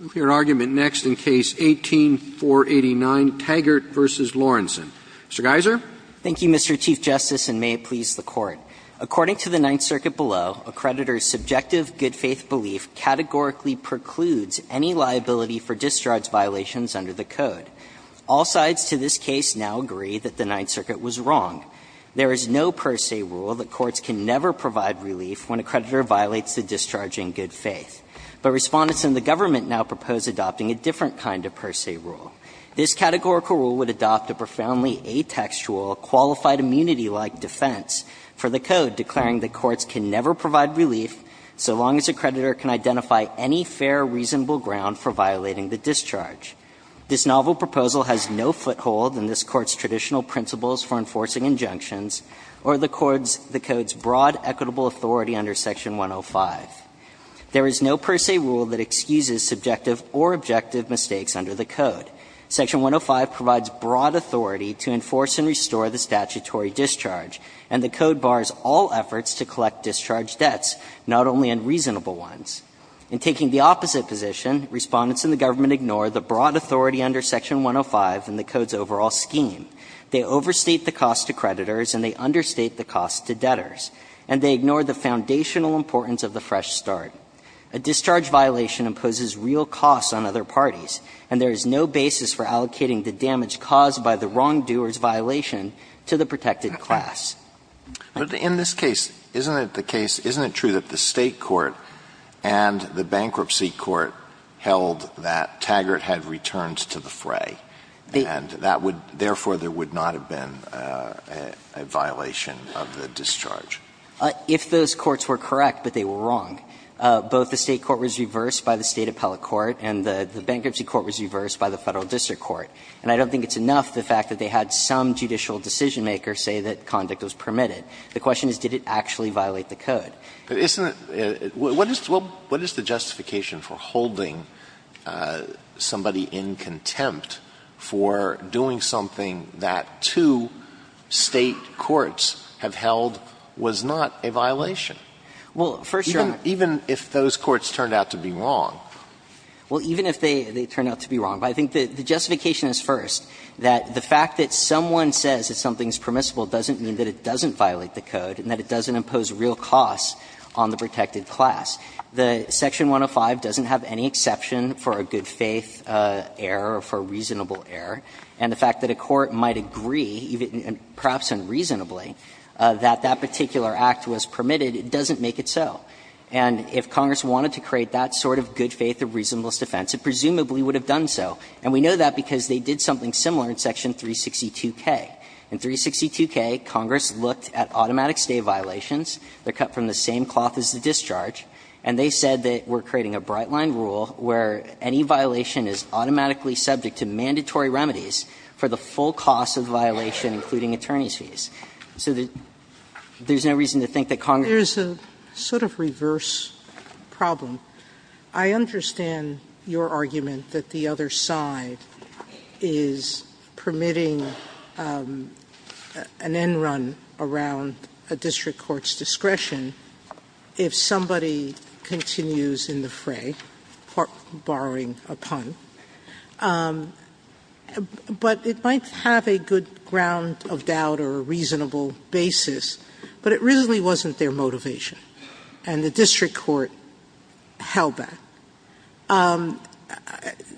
We'll hear argument next in Case 18-489, Taggart v. Lorenzen. Mr. Geiser. Thank you, Mr. Chief Justice, and may it please the Court. According to the Ninth Circuit below, a creditor's subjective good-faith belief categorically precludes any liability for discharge violations under the Code. All sides to this case now agree that the Ninth Circuit was wrong. There is no per se rule that courts can never provide relief when a creditor violates the discharge in good faith. But Respondents in the government now propose adopting a different kind of per se rule. This categorical rule would adopt a profoundly atextual, qualified immunity-like defense for the Code, declaring that courts can never provide relief so long as a creditor can identify any fair, reasonable ground for violating the discharge. This novel proposal has no foothold in this Court's traditional principles for enforcing injunctions or the Code's broad equitable authority under Section 105. There is no per se rule that excuses subjective or objective mistakes under the Code. Section 105 provides broad authority to enforce and restore the statutory discharge, and the Code bars all efforts to collect discharge debts, not only unreasonable ones. In taking the opposite position, Respondents in the government ignore the broad authority under Section 105 in the Code's overall scheme. They overstate the cost to creditors and they understate the cost to debtors. And they ignore the foundational importance of the fresh start. A discharge violation imposes real costs on other parties, and there is no basis for allocating the damage caused by the wrongdoer's violation to the protected class. Alitoson But in this case, isn't it the case, isn't it true that the State court and the Bankruptcy Court held that Taggart had returned to the fray, and that would therefore there would not have been a violation of the discharge? If those courts were correct, but they were wrong. Both the State court was reversed by the State appellate court, and the Bankruptcy Court was reversed by the Federal District Court. And I don't think it's enough the fact that they had some judicial decision-maker say that conduct was permitted. The question is, did it actually violate the Code? Isn't it what is the justification for holding somebody in contempt for doing something that two State courts have held was not a violation? Well, first Your Honor. Even if those courts turned out to be wrong. Well, even if they turned out to be wrong. But I think the justification is first, that the fact that someone says that something is permissible doesn't mean that it doesn't violate the Code and that it doesn't impose real costs on the protected class. The Section 105 doesn't have any exception for a good-faith error or for a reasonable error, and the fact that a court might agree, perhaps unreasonably, that that particular act was permitted doesn't make it so. And if Congress wanted to create that sort of good-faith or reasonableness defense, it presumably would have done so. And we know that because they did something similar in Section 362K. In 362K, Congress looked at automatic State violations. They're cut from the same cloth as the discharge. And they said that we're creating a bright-line rule where any violation is automatically subject to mandatory remedies for the full cost of the violation, including attorney's fees. So there's no reason to think that Congress Sotomayor's a sort of reverse problem. I understand your argument that the other side is permitting an end run around a district court's discretion if somebody continues in the fray, borrowing a pun. But it might have a good ground of doubt or a reasonable basis, but it really wasn't their motivation, and the district court held that.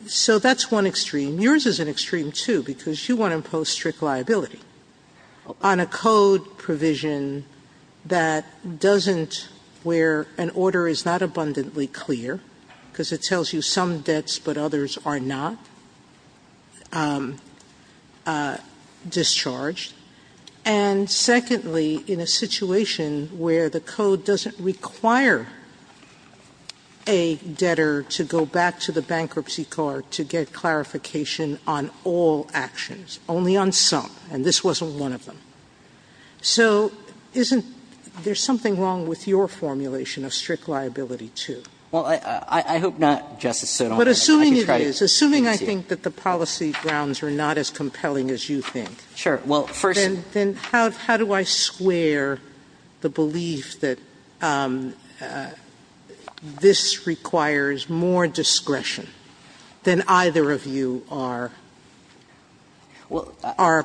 So that's one extreme. Yours is an extreme, too, because you want to impose strict liability on a code provision that doesn't where an order is not abundantly clear, because it tells you some debts are in place but others are not discharged. And secondly, in a situation where the code doesn't require a debtor to go back to the bankruptcy card to get clarification on all actions, only on some, and this wasn't one of them. So isn't there something wrong with your formulation of strict liability, too? Well, I hope not, Justice Sotomayor. I can try to convince you. Sotomayor, but assuming it is, assuming I think that the policy grounds are not as compelling as you think, then how do I square the belief that this requires more discretion than either of you are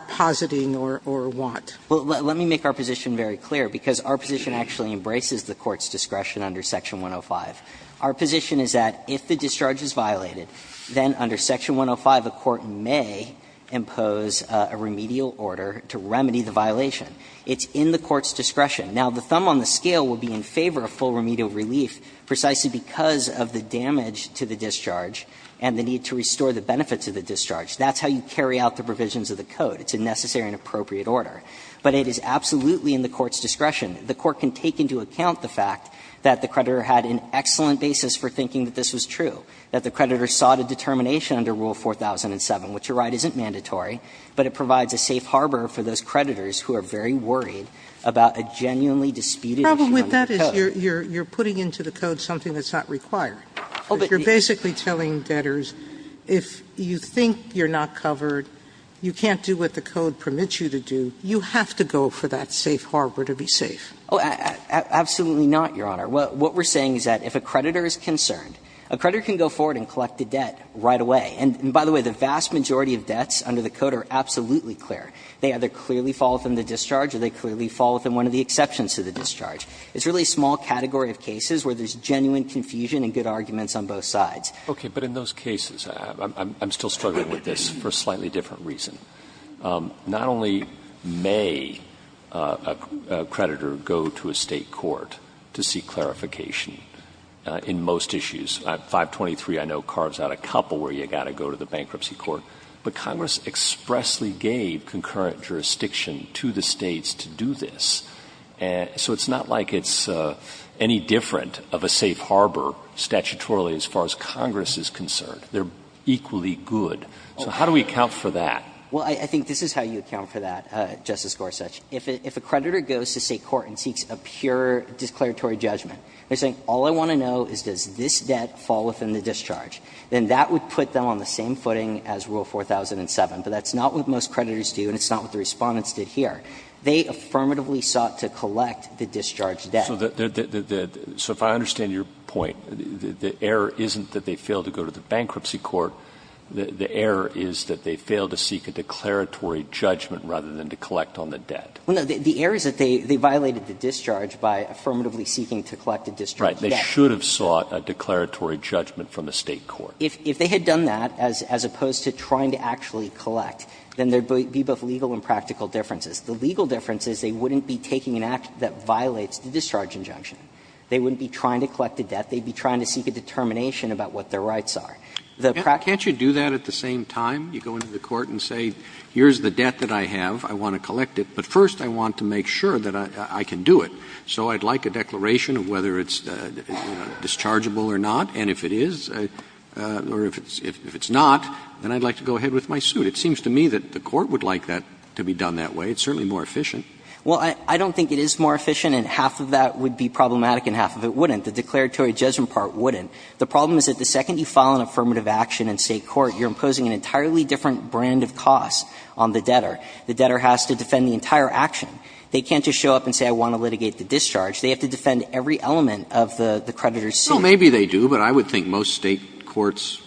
positing or want? Well, let me make our position very clear, because our position actually embraces the Court's discretion under Section 105. Our position is that if the discharge is violated, then under Section 105, a court may impose a remedial order to remedy the violation. It's in the Court's discretion. Now, the thumb on the scale would be in favor of full remedial relief precisely because of the damage to the discharge and the need to restore the benefits of the discharge. That's how you carry out the provisions of the code. It's a necessary and appropriate order. But it is absolutely in the Court's discretion. The Court can take into account the fact that the creditor had an excellent basis for thinking that this was true, that the creditor sought a determination under Rule 4007, which you're right, isn't mandatory, but it provides a safe harbor for those creditors who are very worried about a genuinely disputed issue under the code. Sotomayor, but the problem with that is you're putting into the code something that's not required. You're basically telling debtors, if you think you're not covered, you can't do what the code permits you to do, you have to go for that safe harbor to be safe. Oh, absolutely not, Your Honor. What we're saying is that if a creditor is concerned, a creditor can go forward and collect a debt right away. And by the way, the vast majority of debts under the code are absolutely clear. They either clearly fall within the discharge or they clearly fall within one of the exceptions to the discharge. It's really a small category of cases where there's genuine confusion and good arguments on both sides. Okay. But in those cases, I'm still struggling with this for a slightly different reason. Not only may a creditor go to a State court to seek clarification in most issues — 523, I know, carves out a couple where you've got to go to the bankruptcy court — but Congress expressly gave concurrent jurisdiction to the States to do this. So it's not like it's any different of a safe harbor statutorily as far as Congress is concerned. They're equally good. So how do we account for that? Well, I think this is how you account for that, Justice Gorsuch. If a creditor goes to State court and seeks a pure declaratory judgment, they're saying, all I want to know is does this debt fall within the discharge, then that would put them on the same footing as Rule 4007. But that's not what most creditors do and it's not what the Respondents did here. They affirmatively sought to collect the discharged debt. So the — so if I understand your point, the error isn't that they failed to go to the bankruptcy court. The error is that they failed to seek a declaratory judgment rather than to collect on the debt. Well, no. The error is that they violated the discharge by affirmatively seeking to collect a discharge debt. Right. They should have sought a declaratory judgment from the State court. If they had done that, as opposed to trying to actually collect, then there would be both legal and practical differences. The legal difference is they wouldn't be taking an act that violates the discharge injunction. They wouldn't be trying to collect a debt. They'd be trying to seek a determination about what their rights are. Can't you do that at the same time? You go into the court and say, here's the debt that I have. I want to collect it, but first I want to make sure that I can do it. So I'd like a declaration of whether it's dischargeable or not, and if it is, or if it's not, then I'd like to go ahead with my suit. It seems to me that the court would like that to be done that way. It's certainly more efficient. Well, I don't think it is more efficient and half of that would be problematic and half of it wouldn't. The declaratory judgment part wouldn't. The problem is that the second you file an affirmative action in State court, you're imposing an entirely different brand of cost on the debtor. The debtor has to defend the entire action. They can't just show up and say, I want to litigate the discharge. They have to defend every element of the creditor's suit. Well, maybe they do, but I would think most State courts,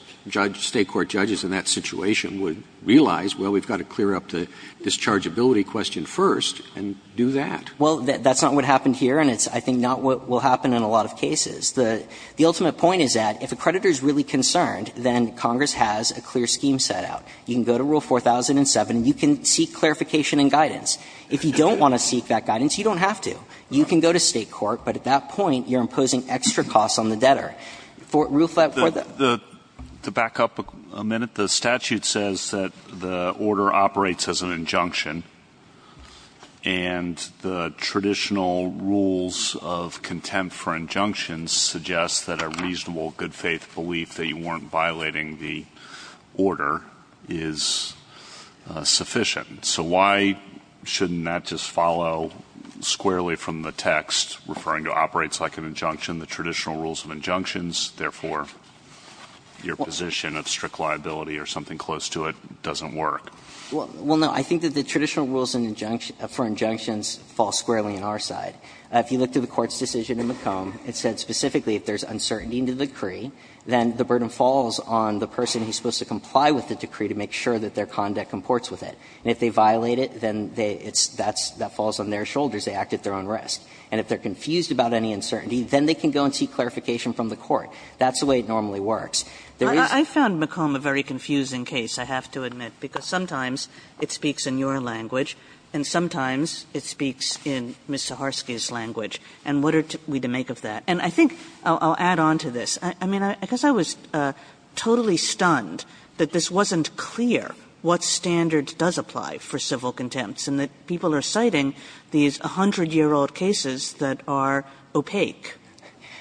State court judges in that situation would realize, well, we've got to clear up the dischargeability question first and do that. Well, that's not what happened here and it's, I think, not what will happen in a lot of cases. The ultimate point is that if a creditor is really concerned, then Congress has a clear scheme set out. You can go to Rule 4007 and you can seek clarification and guidance. If you don't want to seek that guidance, you don't have to. You can go to State court, but at that point you're imposing extra costs on the debtor. Rule 4, that for the the to back up a minute, the statute says that the order operates as an injunction and the traditional rules of contempt for injunctions suggest that a reasonable good faith belief that you weren't violating the order is sufficient. So why shouldn't that just follow squarely from the text, referring to operates like an injunction, the traditional rules of injunctions, therefore, your position of strict liability or something close to it doesn't work? Well, no, I think that the traditional rules for injunctions fall squarely on our side. If you look to the Court's decision in McComb, it said specifically if there's uncertainty in the decree, then the burden falls on the person who's supposed to comply with the decree to make sure that their conduct comports with it. And if they violate it, then that falls on their shoulders. They act at their own risk. And if they're confused about any uncertainty, then they can go and seek clarification from the court. That's the way it normally works. There is not a very confusing case, I have to admit, because sometimes it speaks in your language, and sometimes it speaks in Ms. Saharsky's language. And what are we to make of that? And I think I'll add on to this. I mean, I guess I was totally stunned that this wasn't clear what standards does apply for civil contempts and that people are citing these 100-year-old cases that are opaque.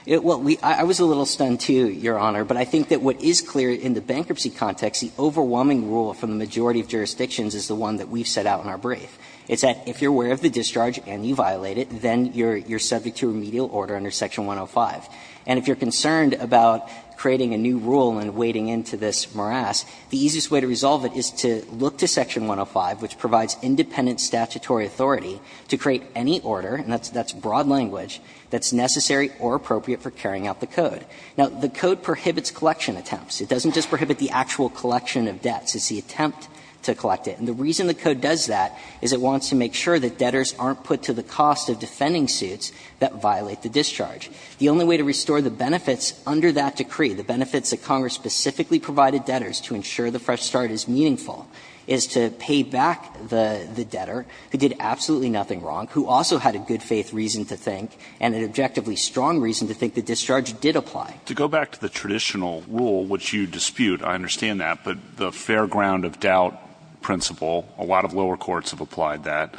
Well, I was a little stunned, too, Your Honor. But I think that what is clear in the bankruptcy context, the overwhelming rule from the majority of jurisdictions is the one that we've set out in our brief. It's that if you're aware of the discharge and you violate it, then you're subject to remedial order under Section 105. And if you're concerned about creating a new rule and wading into this morass, the easiest way to resolve it is to look to Section 105, which provides independent statutory authority to create any order, and that's broad language, that's necessary or appropriate for carrying out the code. Now, the code prohibits collection attempts. It doesn't just prohibit the actual collection of debts. It's the attempt to collect it. And the reason the code does that is it wants to make sure that debtors aren't put to the cost of defending suits that violate the discharge. The only way to restore the benefits under that decree, the benefits that Congress specifically provided debtors to ensure the fresh start is meaningful, is to pay back the debtor who did absolutely nothing wrong, who also had a good faith reason to think and an objectively strong reason to think the discharge did apply. To go back to the traditional rule, which you dispute, I understand that, but the fair ground of doubt principle, a lot of lower courts have applied that.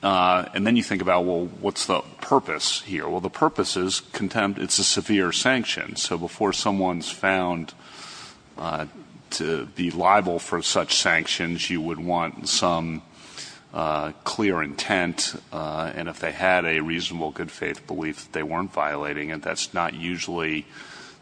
And then you think about, well, what's the purpose here? Well, the purpose is contempt. It's a severe sanction. So before someone's found to be liable for such sanctions, you would want some clear intent and if they had a reasonable good faith belief that they weren't violating it, that's not usually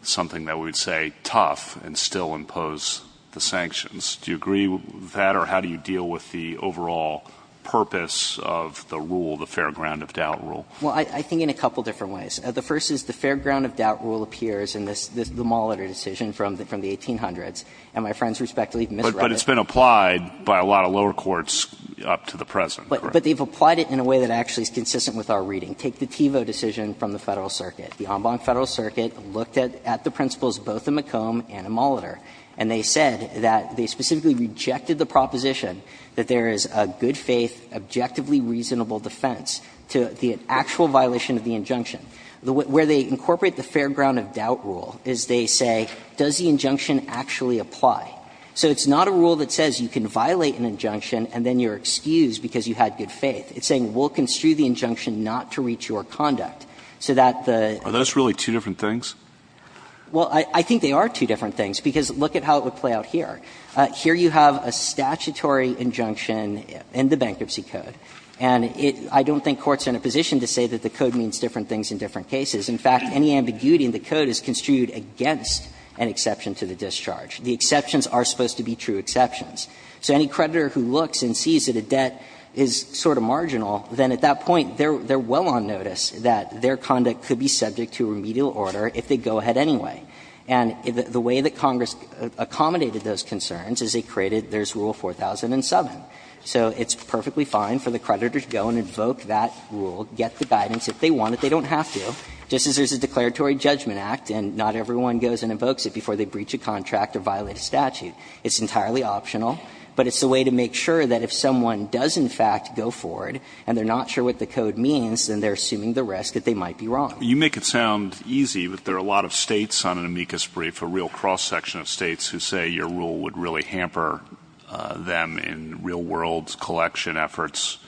something that we would say tough and still impose the sanctions. Do you agree with that or how do you deal with the overall purpose of the rule, the fair ground of doubt rule? Well, I think in a couple of different ways. The first is the fair ground of doubt rule appears in the Muller decision from the 1800s. And my friends respectfully misread it. But it's been applied by a lot of lower courts up to the present, correct? But they've applied it in a way that actually is consistent with our reading. They didn't take the Tevo decision from the Federal Circuit. The Ombud Federal Circuit looked at the principles both in McComb and in Muller, and they said that they specifically rejected the proposition that there is a good faith, objectively reasonable defense to the actual violation of the injunction. Where they incorporate the fair ground of doubt rule is they say, does the injunction actually apply? So it's not a rule that says you can violate an injunction and then you're excused because you had good faith. It's saying we'll construe the injunction not to reach your conduct. So that the ---- Are those really two different things? Well, I think they are two different things, because look at how it would play out here. Here you have a statutory injunction in the Bankruptcy Code, and I don't think courts are in a position to say that the Code means different things in different cases. In fact, any ambiguity in the Code is construed against an exception to the discharge. The exceptions are supposed to be true exceptions. So any creditor who looks and sees that a debt is sort of marginal, then at that point they are well on notice that their conduct could be subject to remedial order if they go ahead anyway. And the way that Congress accommodated those concerns is they created this Rule 4007. So it's perfectly fine for the creditors to go and invoke that rule, get the guidance if they want it, they don't have to, just as there is a declaratory judgment act and not everyone goes and invokes it before they breach a contract or violate a statute. It's entirely optional, but it's a way to make sure that if someone does in fact go forward and they are not sure what the Code means, then they are assuming the risk that they might be wrong. Alitoson You make it sound easy, but there are a lot of States on an amicus brief, a real cross-section of States, who say your Rule would really hamper them in real world collection efforts.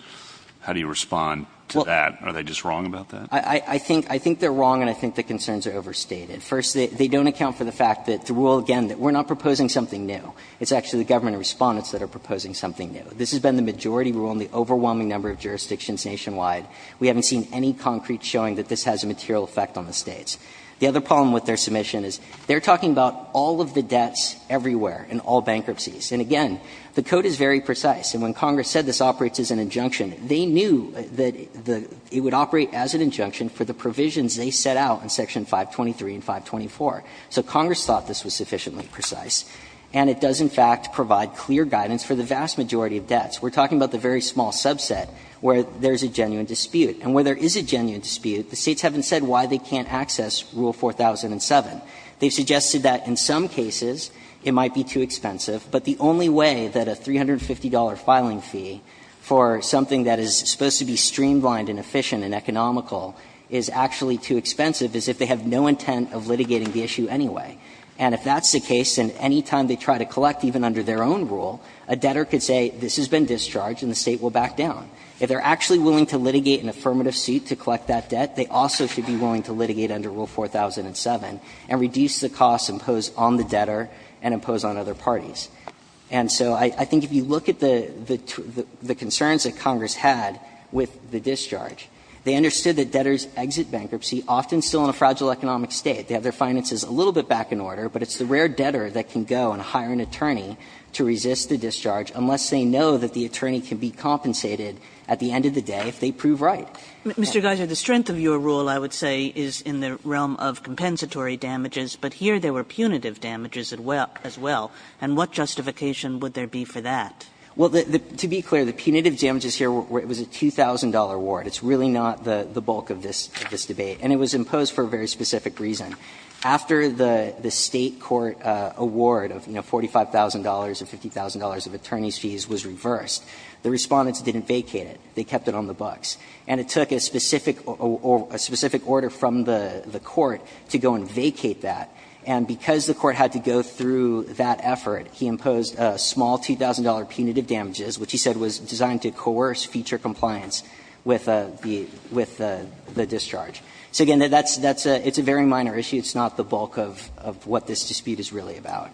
How do you respond to that? Are they just wrong about that? Blackman I think they are wrong and I think the concerns are overstated. First, they don't account for the fact that the Rule, again, that we are not proposing something new. It's actually the government respondents that are proposing something new. This has been the majority Rule in the overwhelming number of jurisdictions nationwide. We haven't seen any concrete showing that this has a material effect on the States. The other problem with their submission is they are talking about all of the debts everywhere in all bankruptcies. And again, the Code is very precise. And when Congress said this operates as an injunction, they knew that it would operate as an injunction for the provisions they set out in Section 523 and 524. So Congress thought this was sufficiently precise. And it does, in fact, provide clear guidance for the vast majority of debts. We are talking about the very small subset where there is a genuine dispute. And where there is a genuine dispute, the States haven't said why they can't access Rule 4007. They suggested that in some cases it might be too expensive, but the only way that a $350 filing fee for something that is supposed to be streamlined and efficient and economical is actually too expensive is if they have no intent of litigating the issue anyway. And if that's the case, then any time they try to collect even under their own rule, a debtor could say this has been discharged and the State will back down. If they are actually willing to litigate an affirmative suit to collect that debt, they also should be willing to litigate under Rule 4007 and reduce the costs imposed on the debtor and imposed on other parties. And so I think if you look at the concerns that Congress had with the discharge, they understood that debtors exit bankruptcy often still in a fragile economic state. They have their finances a little bit back in order, but it's the rare debtor that can go and hire an attorney to resist the discharge unless they know that the attorney can be compensated at the end of the day if they prove right. Kagan. Mr. Geiser, the strength of your rule I would say is in the realm of compensatory damages, but here there were punitive damages as well. And what justification would there be for that? Well, to be clear, the punitive damages here, it was a $2,000 award. It's really not the bulk of this debate. And it was imposed for a very specific reason. After the State court award of, you know, $45,000 and $50,000 of attorney's fees was reversed, the Respondents didn't vacate it. They kept it on the books. And it took a specific order from the court to go and vacate that. And because the court had to go through that effort, he imposed a small $2,000 punitive damages, which he said was designed to coerce future compliance with the discharge. So, again, that's a very minor issue. It's not the bulk of what this dispute is really about.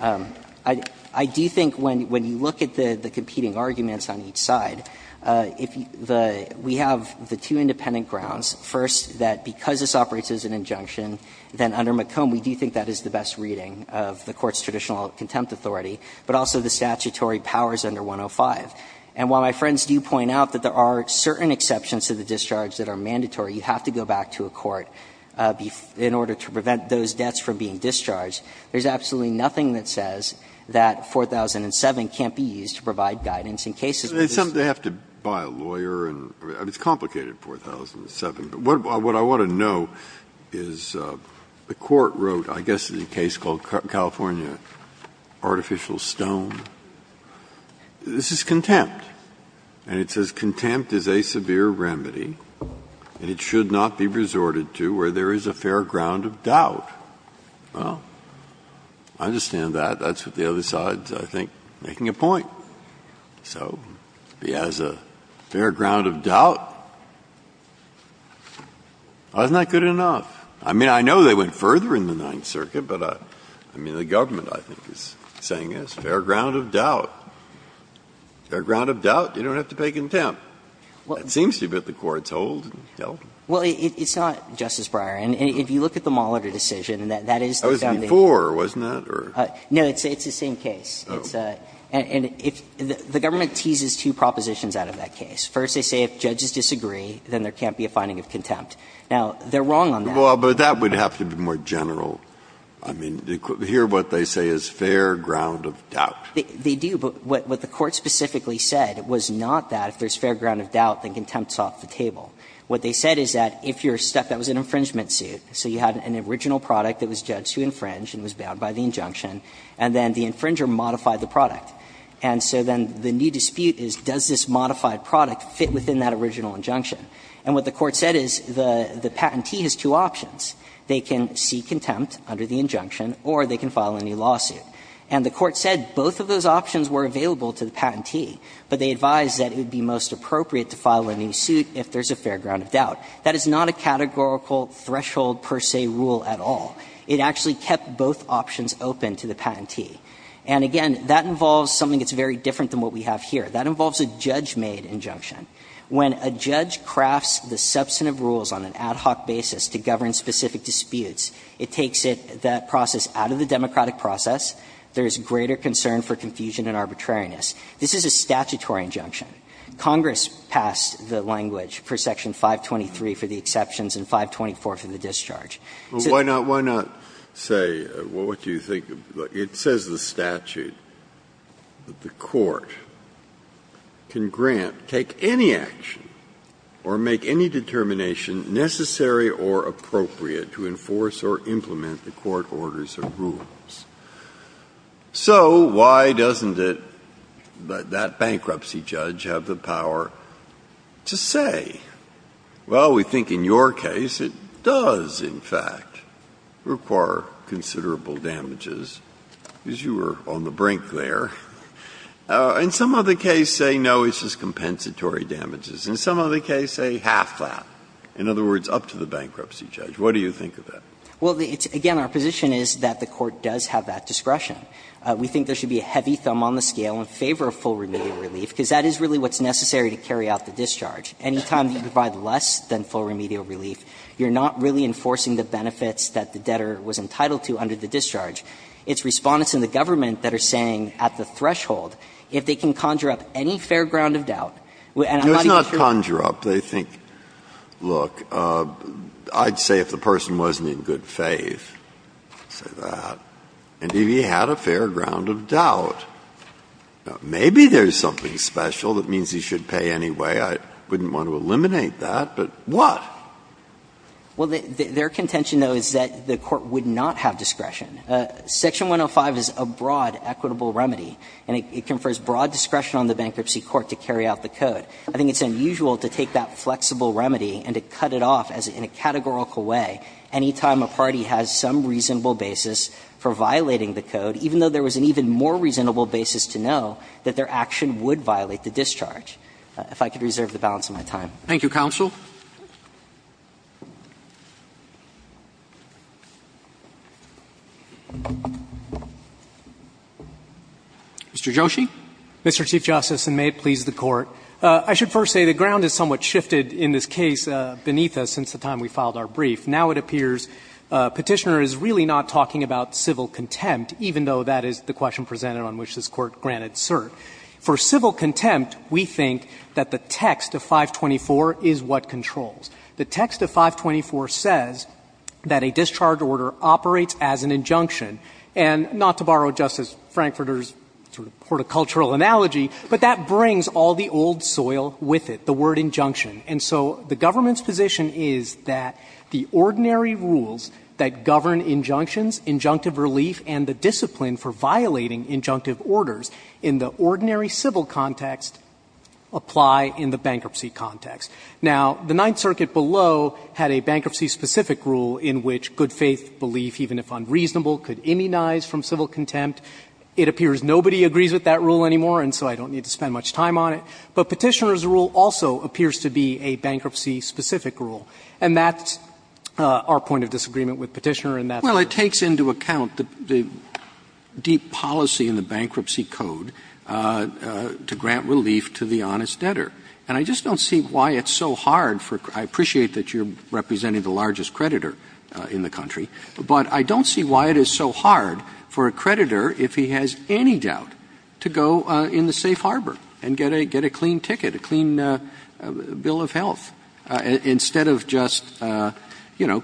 I do think when you look at the competing arguments on each side, we have the two independent grounds, first, that because this operates as an injunction, then under McComb we do think that is the best reading of the court's traditional contempt authority, but also the statutory powers under 105. And while my friends do point out that there are certain exceptions to the discharge that are mandatory, you have to go back to a court in order to prevent those debts from being discharged, there's absolutely nothing that says that 4007 can't be used to provide guidance in cases where this is the case. Breyer, It's something they have to buy a lawyer and it's complicated, 4007. But what I want to know is the court wrote, I guess, in a case called California artificial stone. This is contempt. And it says contempt is a severe remedy and it should not be resorted to where there is a fair ground of doubt. Well, I understand that. That's what the other side is, I think, making a point. So it has a fair ground of doubt. Isn't that good enough? I mean, I know they went further in the Ninth Circuit, but I mean, the government I think is saying, yes, fair ground of doubt. Fair ground of doubt, you don't have to pay contempt. It seems to me that the courts hold and held. Well, it's not, Justice Breyer, and if you look at the Moller decision, that is the founding. That was before, wasn't it? No, it's the same case. And if the government teases two propositions out of that case. First, they say if judges disagree, then there can't be a finding of contempt. Now, they're wrong on that. Well, but that would have to be more general. I mean, here what they say is fair ground of doubt. They do, but what the Court specifically said was not that if there's fair ground of doubt, then contempt is off the table. What they said is that if you're stuck, that was an infringement suit, so you had an original product that was judged to infringe and was bound by the injunction, and then the infringer modified the product. And so then the new dispute is, does this modified product fit within that original injunction? And what the Court said is the patentee has two options. They can seek contempt under the injunction, or they can file a new lawsuit. And the Court said both of those options were available to the patentee, but they advised that it would be most appropriate to file a new suit if there's a fair ground of doubt. That is not a categorical threshold per se rule at all. It actually kept both options open to the patentee. And again, that involves something that's very different than what we have here. That involves a judge-made injunction. When a judge crafts the substantive rules on an ad hoc basis to govern specific disputes, it takes it, that process, out of the democratic process. There is greater concern for confusion and arbitrariness. This is a statutory injunction. Congress passed the language for Section 523 for the exceptions and 524 for the discharge. So why doesn't it, that bankruptcy judge, have the power to say, well, we think in your case it does, in fact, require considerable damages, because you were on the brink there, and some other case say, no, it's just compensatory damages. In some other case, say, half that, in other words, up to the bankruptcy judge. What do you think of that? Well, again, our position is that the Court does have that discretion. We think there should be a heavy thumb on the scale in favor of full remedial relief, because that is really what's necessary to carry out the discharge. Any time you provide less than full remedial relief, you're not really enforcing the benefits that the debtor was entitled to under the discharge. It's Respondents in the government that are saying at the threshold, if they can conjure up any fair ground of doubt, and I'm not even sure that's true. It's not conjure up. They think, look, I'd say if the person wasn't in good faith, say that, and if he had a fair ground of doubt, maybe there's something special that means he should pay anyway. I wouldn't want to eliminate that, but what? Well, their contention, though, is that the Court would not have discretion. Section 105 is a broad equitable remedy, and it confers broad discretion on the bankruptcy court to carry out the code. I think it's unusual to take that flexible remedy and to cut it off in a categorical way any time a party has some reasonable basis for violating the code, even though there was an even more reasonable basis to know that their action would violate the discharge. If I could reserve the balance of my time. Roberts. Thank you, counsel. Mr. Joshi. Mr. Chief Justice, and may it please the Court. I should first say the ground has somewhat shifted in this case beneath us since the time we filed our brief. Now it appears Petitioner is really not talking about civil contempt, even though that is the question presented on which this Court granted cert. For civil contempt, we think that the text of 524 is what controls. The text of 524 says that a discharge order operates as an injunction, and not to borrow Justice Frankfurter's sort of horticultural analogy, but that brings all the old soil with it, the word injunction. And so the government's position is that the ordinary rules that govern injunctions, injunctive relief, and the discipline for violating injunctive orders in the ordinary civil context apply in the bankruptcy context. Now, the Ninth Circuit below had a bankruptcy-specific rule in which good faith belief, even if unreasonable, could immunize from civil contempt. It appears nobody agrees with that rule anymore, and so I don't need to spend much time on it. But Petitioner's rule also appears to be a bankruptcy-specific rule. And that's our point of disagreement with Petitioner in that. Well, it takes into account the deep policy in the Bankruptcy Code to grant relief to the honest debtor. And I just don't see why it's so hard for — I appreciate that you're representing the largest creditor in the country, but I don't see why it is so hard for a creditor, if he has any doubt, to go in the safe harbor and get a clean ticket, a clean bill of health, instead of just, you know,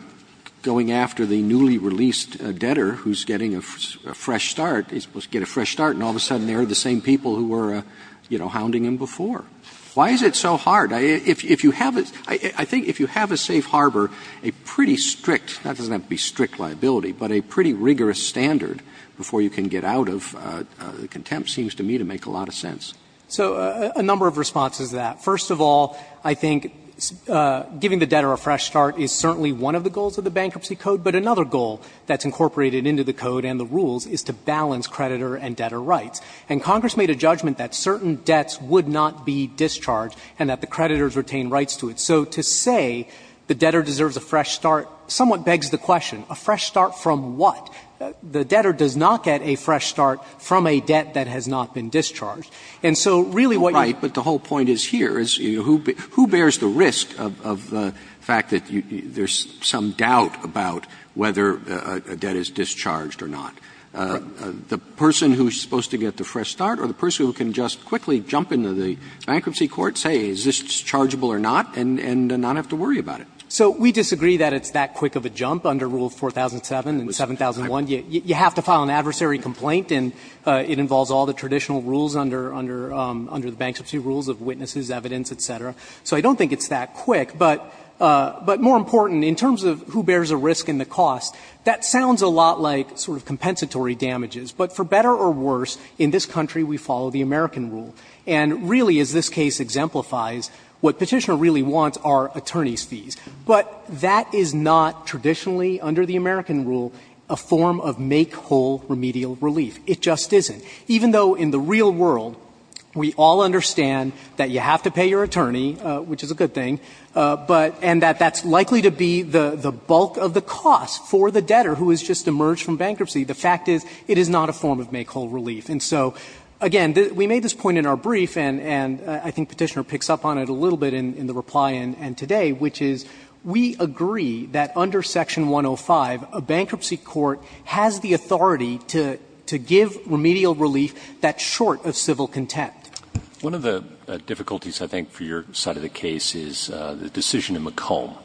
going after the newly released debtor who's getting a fresh start. He's supposed to get a fresh start, and all of a sudden there are the same people who were, you know, hounding him before. Why is it so hard? If you have — I think if you have a safe harbor, a pretty strict — not that it doesn't have to be strict liability, but a pretty rigorous standard before you can get out of contempt seems to me to make a lot of sense. So a number of responses to that. First of all, I think giving the debtor a fresh start is certainly one of the goals of the Bankruptcy Code, but another goal that's incorporated into the Code and the rules is to balance creditor and debtor rights. And Congress made a judgment that certain debts would not be discharged and that the creditors retain rights to it. So to say the debtor deserves a fresh start somewhat begs the question, a fresh start from what? The debtor does not get a fresh start from a debt that has not been discharged. And so really what you — Roberts Who bears the risk of the fact that there's some doubt about whether a debt is discharged or not? The person who's supposed to get the fresh start or the person who can just quickly jump into the bankruptcy court, say, is this chargeable or not, and not have to worry about it? So we disagree that it's that quick of a jump under Rule 4007 and 7001. You have to file an adversary complaint, and it involves all the traditional rules under the Bankruptcy Rules of witnesses, evidence, et cetera. So I don't think it's that quick, but more important, in terms of who bears a risk and the cost, that sounds a lot like sort of compensatory damages. But for better or worse, in this country we follow the American rule. And really, as this case exemplifies, what Petitioner really wants are attorneys' fees. But that is not traditionally, under the American rule, a form of make-whole remedial relief. It just isn't. Even though in the real world we all understand that you have to pay your attorney, which is a good thing, but and that that's likely to be the bulk of the cost for the debtor who has just emerged from bankruptcy, the fact is it is not a form of make-whole relief. And so, again, we made this point in our brief, and I think Petitioner picks up on it a little bit in the reply and today, which is we agree that under Section 105 a bankruptcy court has the authority to give remedial relief that's short of civil contempt. One of the difficulties, I think, for your side of the case is the decision in McComb,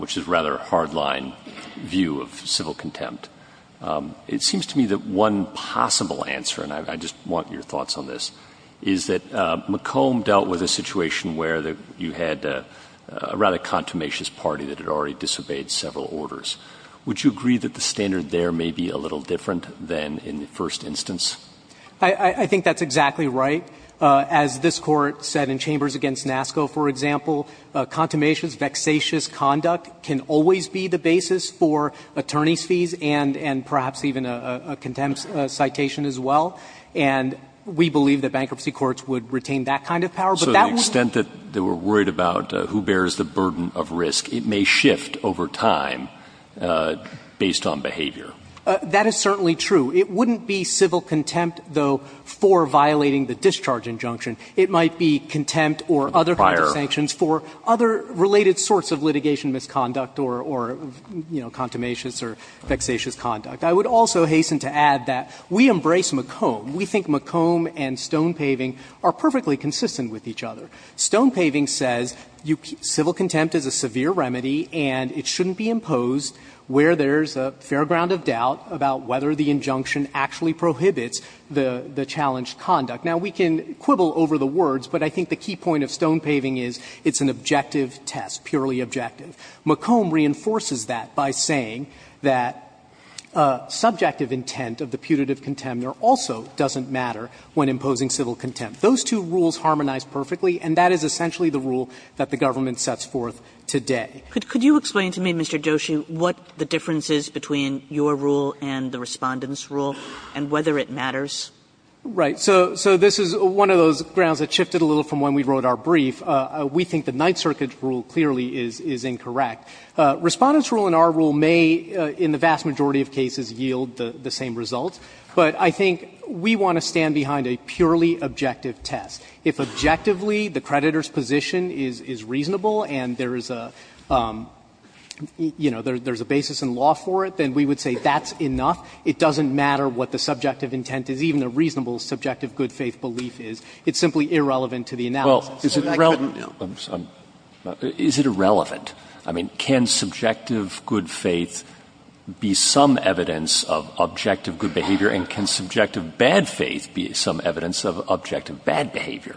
which is rather a hard-line view of civil contempt. It seems to me that one possible answer, and I just want your thoughts on this, is that McComb dealt with a situation where you had a rather contumacious party that had already disobeyed several orders. Would you agree that the standard there may be a little different than in the first instance? I think that's exactly right. As this Court said in Chambers against NASCO, for example, contumacious, vexatious conduct can always be the basis for attorney's fees and perhaps even a contempt citation as well. And we believe that bankruptcy courts would retain that kind of power, but that would be the case. So the extent that they were worried about who bears the burden of risk, it may shift over time based on behavior. That is certainly true. It wouldn't be civil contempt, though, for violating the discharge injunction. It might be contempt or other kinds of sanctions for other related sorts of litigation misconduct or, you know, contumacious or vexatious conduct. I would also hasten to add that we embrace McComb. We think McComb and Stonepaving are perfectly consistent with each other. Stonepaving says civil contempt is a severe remedy and it shouldn't be imposed where there's a fair ground of doubt about whether the injunction actually prohibits the challenged conduct. Now, we can quibble over the words, but I think the key point of Stonepaving is it's an objective test, purely objective. McComb reinforces that by saying that subjective intent of the putative contempt also doesn't matter when imposing civil contempt. Those two rules harmonize perfectly, and that is essentially the rule that the government sets forth today. Kagan Could you explain to me, Mr. Joshi, what the difference is between your rule and the Respondent's rule and whether it matters? Right. So this is one of those grounds that shifted a little from when we wrote our brief. We think the Ninth Circuit's rule clearly is incorrect. Respondent's rule and our rule may, in the vast majority of cases, yield the same results, but I think we want to stand behind a purely objective test. If objectively the creditor's position is reasonable and there is a, you know, there's a basis in law for it, then we would say that's enough. It doesn't matter what the subjective intent is, even the reasonable subjective good faith belief is. It's simply irrelevant to the analysis. Well, is it relevant? I'm sorry. Is it irrelevant? I mean, can subjective good faith be some evidence of objective good behavior? And can subjective bad faith be some evidence of objective bad behavior?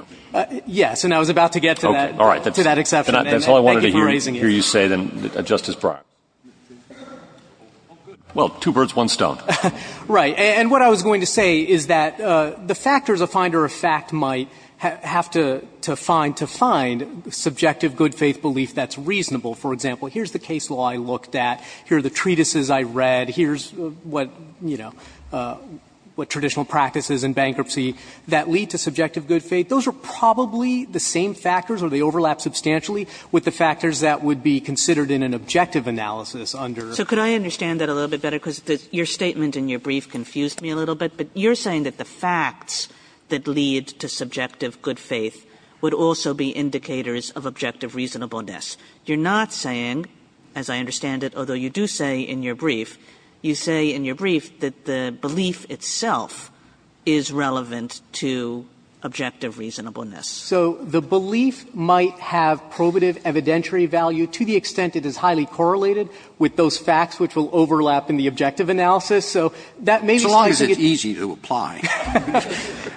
Yes. And I was about to get to that exception, and thank you for raising it. And that's all I wanted to hear you say, then, Justice Breyer. Well, two birds, one stone. Right. And what I was going to say is that the factors a finder of fact might have to find subjective good faith belief that's reasonable, for example, here's the case law I looked at, here are the treatises I read, here's what, you know, what traditional practices in bankruptcy that lead to subjective good faith, those are probably the same factors or they overlap substantially with the factors that would be considered in an objective analysis under. So could I understand that a little bit better? Because your statement in your brief confused me a little bit. But you're saying that the facts that lead to subjective good faith would also be indicators of objective reasonableness. You're not saying, as I understand it, although you do say in your brief, you say in your brief that the belief itself is relevant to objective reasonableness. So the belief might have probative evidentiary value to the extent it is highly correlated with those facts which will overlap in the objective analysis. So that may be. So long as it's easy to apply.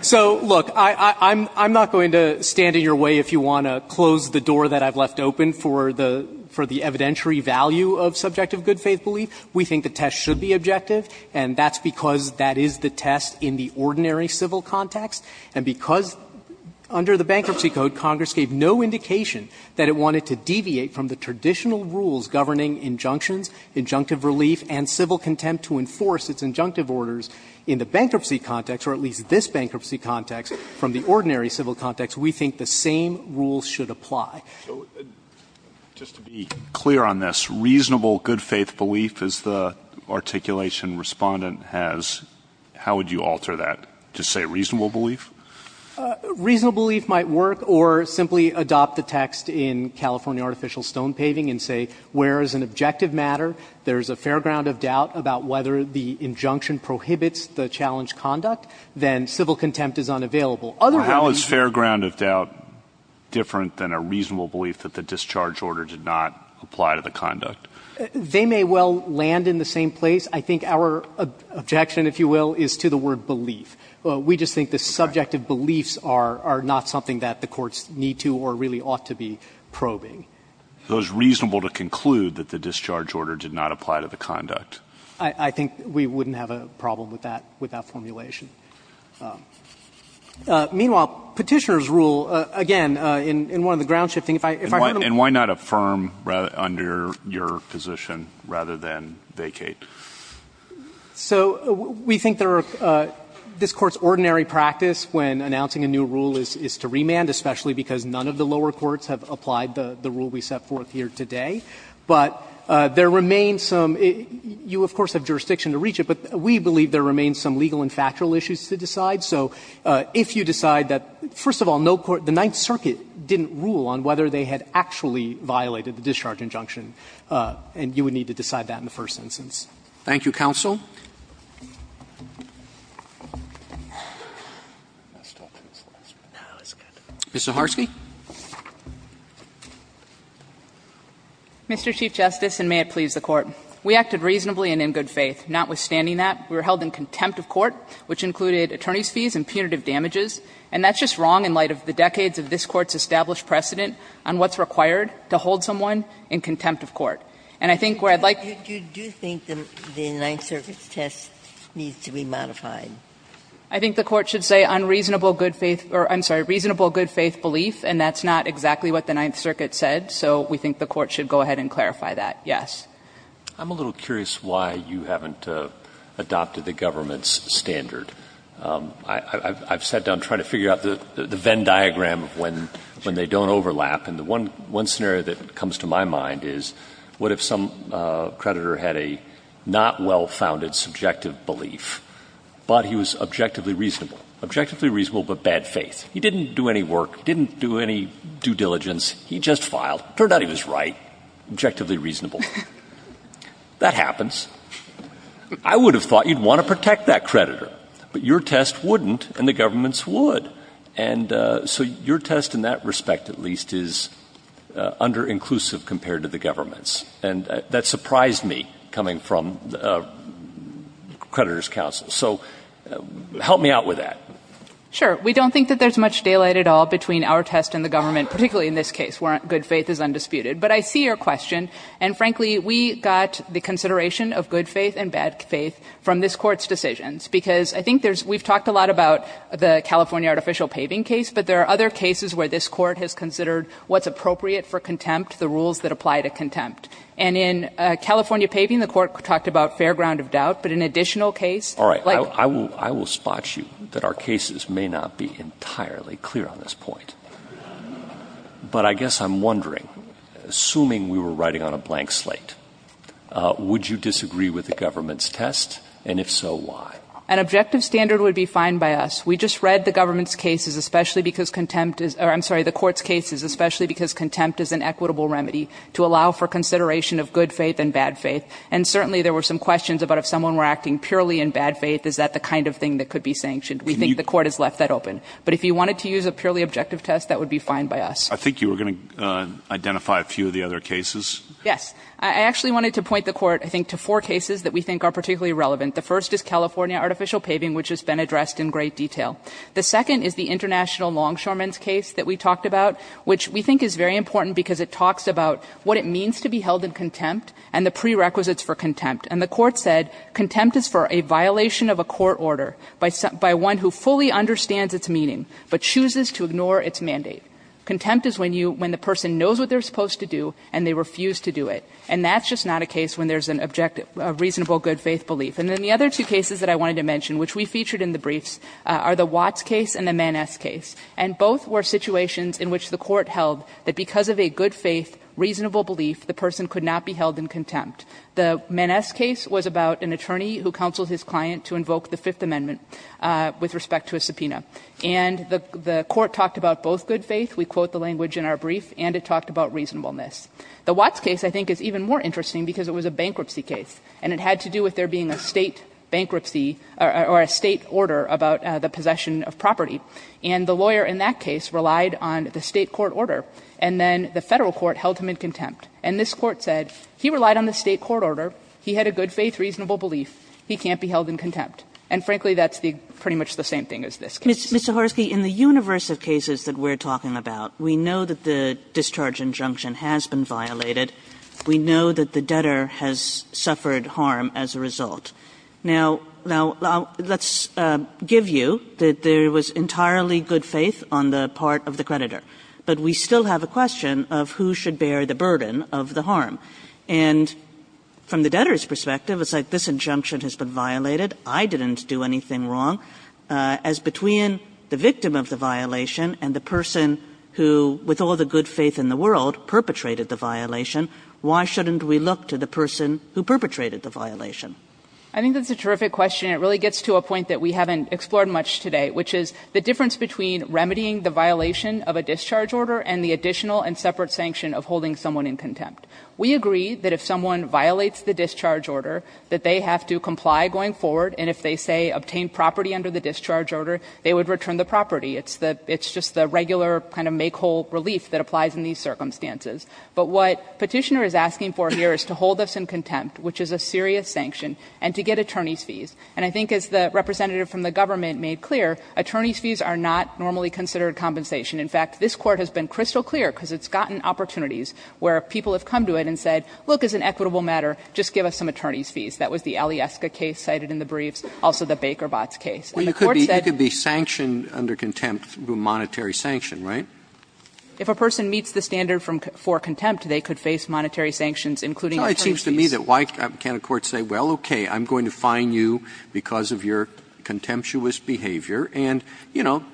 So, look, I'm not going to stand in your way if you want to close the door that I've left open for the evidentiary value of subjective good faith belief. We think the test should be objective, and that's because that is the test in the ordinary civil context. And because under the Bankruptcy Code, Congress gave no indication that it wanted to deviate from the traditional rules governing injunctions, injunctive relief, and civil contempt to enforce its injunctive orders in the bankruptcy context, or at least this bankruptcy context, from the ordinary civil context, we think the same rules should apply. So just to be clear on this, reasonable good faith belief is the articulation Respondent has. How would you alter that to say reasonable belief? Reasonable belief might work or simply adopt the text in California Artificial Stone Paving and say, where is an objective matter? There's a fair ground of doubt about whether the injunction prohibits the challenge of conduct, then civil contempt is unavailable. How is fair ground of doubt different than a reasonable belief that the discharge order did not apply to the conduct? They may well land in the same place. I think our objection, if you will, is to the word belief. We just think the subjective beliefs are not something that the courts need to or really ought to be probing. So it's reasonable to conclude that the discharge order did not apply to the conduct? I think we wouldn't have a problem with that formulation. Meanwhile, Petitioner's rule, again, in one of the ground shifting, if I heard them all And why not affirm under your position rather than vacate? So we think there are this Court's ordinary practice when announcing a new rule is to remand, especially because none of the lower courts have applied the rule we set forth here today. But there remains some you, of course, have jurisdiction to reach it, but we believe there remains some legal and factual issues to decide. So if you decide that, first of all, no court, the Ninth Circuit didn't rule on whether they had actually violated the discharge injunction, and you would need to decide that in the first instance. Roberts. Thank you, counsel. Mr. Harsky. Mr. Chief Justice, and may it please the Court. We acted reasonably and in good faith. Notwithstanding that, we were held in contempt of court, which included attorney's fees and punitive damages, and that's just wrong in light of the decades of this Court's established precedent on what's required to hold someone in contempt of court. And I think where I'd like to You do think the Ninth Circuit's test needs to be modified? I think the Court should say unreasonable good faith or, I'm sorry, reasonable good faith belief, and that's not exactly what the Ninth Circuit said, so we think the Court should go ahead and clarify that, yes. I'm a little curious why you haven't adopted the government's standard. I've sat down trying to figure out the Venn diagram when they don't overlap, and the one scenario that comes to my mind is, what if some creditor had a not well-founded subjective belief, but he was objectively reasonable, objectively reasonable, but bad faith? He didn't do any work, didn't do any due diligence, he just filed. Turned out he was right, objectively reasonable. That happens. I would have thought you'd want to protect that creditor, but your test wouldn't, and the government's would. And so your test in that respect, at least, is underinclusive compared to the government's, and that surprised me, coming from the creditor's counsel. So help me out with that. Sure. We don't think that there's much daylight at all between our test and the government, particularly in this case, where good faith is undisputed. But I see your question, and frankly, we got the consideration of good faith and bad faith from this Court's decisions, because I think there's, we've talked a lot about the California artificial paving case, but there are other cases where this Court has considered what's appropriate for contempt, the rules that apply to contempt. And in California paving, the Court talked about fair ground of doubt, but in additional case, like- I cannot be entirely clear on this point. But I guess I'm wondering, assuming we were writing on a blank slate, would you disagree with the government's test, and if so, why? An objective standard would be fine by us. We just read the government's cases, especially because contempt is, or I'm sorry, the Court's cases, especially because contempt is an equitable remedy to allow for consideration of good faith and bad faith, and certainly there were some questions about if someone were acting purely in bad faith, is that the kind of thing that could be sanctioned? We think the Court has left that open. But if you wanted to use a purely objective test, that would be fine by us. I think you were going to identify a few of the other cases. Yes. I actually wanted to point the Court, I think, to four cases that we think are particularly relevant. The first is California artificial paving, which has been addressed in great detail. The second is the international longshoreman's case that we talked about, which we think is very important because it talks about what it means to be held in contempt and the prerequisites for contempt. And the Court said contempt is for a violation of a court order by one who fully understands its meaning but chooses to ignore its mandate. Contempt is when you, when the person knows what they're supposed to do and they refuse to do it. And that's just not a case when there's an objective, a reasonable good faith belief. And then the other two cases that I wanted to mention, which we featured in the briefs, are the Watts case and the Maness case. And both were situations in which the Court held that because of a good faith, reasonable belief, the person could not be held in contempt. The Maness case was about an attorney who counseled his client to invoke the Fifth Amendment with respect to a subpoena. And the Court talked about both good faith. We quote the language in our brief, and it talked about reasonableness. The Watts case, I think, is even more interesting because it was a bankruptcy case, and it had to do with there being a State bankruptcy or a State order about the possession of property. And the lawyer in that case relied on the State court order. And then the Federal court held him in contempt. And this Court said he relied on the State court order, he had a good faith, reasonable belief, he can't be held in contempt. And frankly, that's pretty much the same thing as this case. Kagan in the universe of cases that we're talking about, we know that the discharge injunction has been violated. We know that the debtor has suffered harm as a result. Now, let's give you that there was entirely good faith on the part of the creditor. But we still have a question of who should bear the burden of the harm. And from the debtor's perspective, it's like this injunction has been violated, I didn't do anything wrong. As between the victim of the violation and the person who, with all the good faith in the world, perpetrated the violation, why shouldn't we look to the person who perpetrated the violation? I think that's a terrific question. It really gets to a point that we haven't explored much today, which is the difference between remedying the violation of a discharge order and the additional and separate sanction of holding someone in contempt. We agree that if someone violates the discharge order, that they have to comply going forward. And if they, say, obtain property under the discharge order, they would return the property. It's just the regular kind of make whole relief that applies in these circumstances. But what petitioner is asking for here is to hold us in contempt, which is a serious sanction, and to get attorney's fees. And I think as the representative from the government made clear, attorney's fees are not normally considered compensation. In fact, this Court has been crystal clear, because it's gotten opportunities where people have come to it and said, look, as an equitable matter, just give us some attorney's fees. That was the Alyeska case cited in the briefs, also the Baker-Botz case. And the Court said you could be sanctioned under contempt through monetary sanction, right? If a person meets the standard for contempt, they could face monetary sanctions, including attorney's fees. It seems to me that why can't a court say, well, okay, I'm going to fine you because of your contemptuous behavior. And, you know,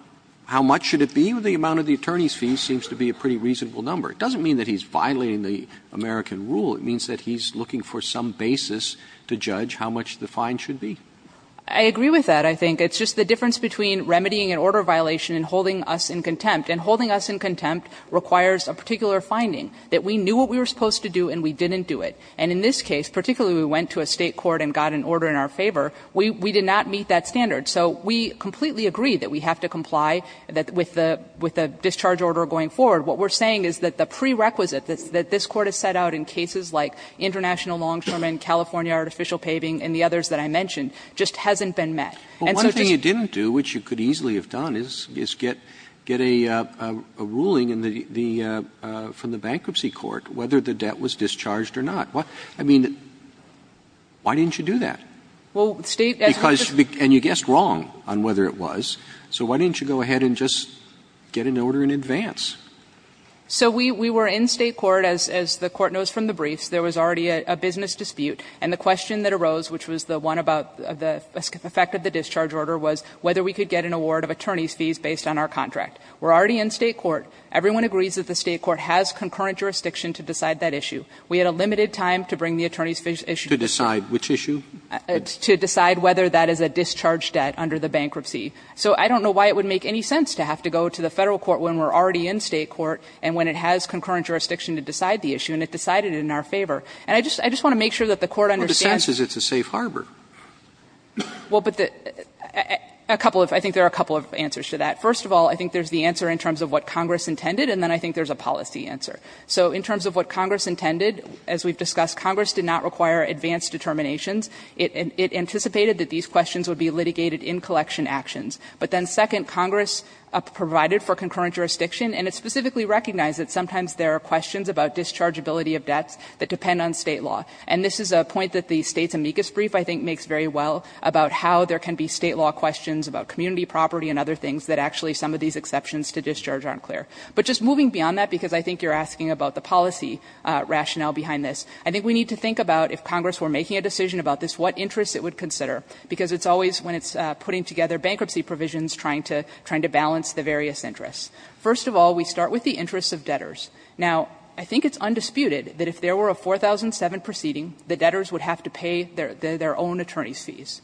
how much should it be? The amount of the attorney's fees seems to be a pretty reasonable number. It doesn't mean that he's violating the American rule. It means that he's looking for some basis to judge how much the fine should be. Saharsky. I agree with that, I think. It's just the difference between remedying an order violation and holding us in contempt. And holding us in contempt requires a particular finding, that we knew what we were supposed to do and we didn't do it. And in this case, particularly we went to a State court and got an order in our favor, we did not meet that standard. So we completely agree that we have to comply with the discharge order going forward. What we're saying is that the prerequisite that this Court has set out in cases like international longshoremen, California artificial paving, and the others that I mentioned, just hasn't been met. And so just to say But one thing you didn't do, which you could easily have done, is get a ruling from the bankruptcy court, whether the debt was discharged or not. I mean, why didn't you do that? Well, State, as we discussed And you guessed wrong on whether it was. So why didn't you go ahead and just get an order in advance? So we were in State court, as the Court knows from the briefs, there was already a business dispute, and the question that arose, which was the one about the effect of the discharge order, was whether we could get an award of attorney's fees based on our contract. We're already in State court. Everyone agrees that the State court has concurrent jurisdiction to decide that issue. We had a limited time to bring the attorney's fees issue to the Court. To decide which issue? To decide whether that is a discharge debt under the bankruptcy. So I don't know why it would make any sense to have to go to the Federal court when we're already in State court and when it has concurrent jurisdiction to decide the issue, and it decided it in our favor. And I just want to make sure that the Court understands Well, the sense is it's a safe harbor. Well, but the – a couple of – I think there are a couple of answers to that. First of all, I think there's the answer in terms of what Congress intended, and then I think there's a policy answer. So in terms of what Congress intended, as we've discussed, Congress did not require advanced determinations. It anticipated that these questions would be litigated in collection actions. But then second, Congress provided for concurrent jurisdiction, and it specifically recognized that sometimes there are questions about dischargeability of debts that depend on State law. And this is a point that the State's amicus brief, I think, makes very well, about how there can be State law questions about community property and other things that actually some of these exceptions to discharge aren't clear. But just moving beyond that, because I think you're asking about the policy rationale behind this, I think we need to think about if Congress were making a decision about this, what interests it would consider. Because it's always when it's putting together bankruptcy provisions, trying to – trying to balance the various interests. First of all, we start with the interests of debtors. Now, I think it's undisputed that if there were a 4007 proceeding, the debtors would have to pay their own attorneys' fees.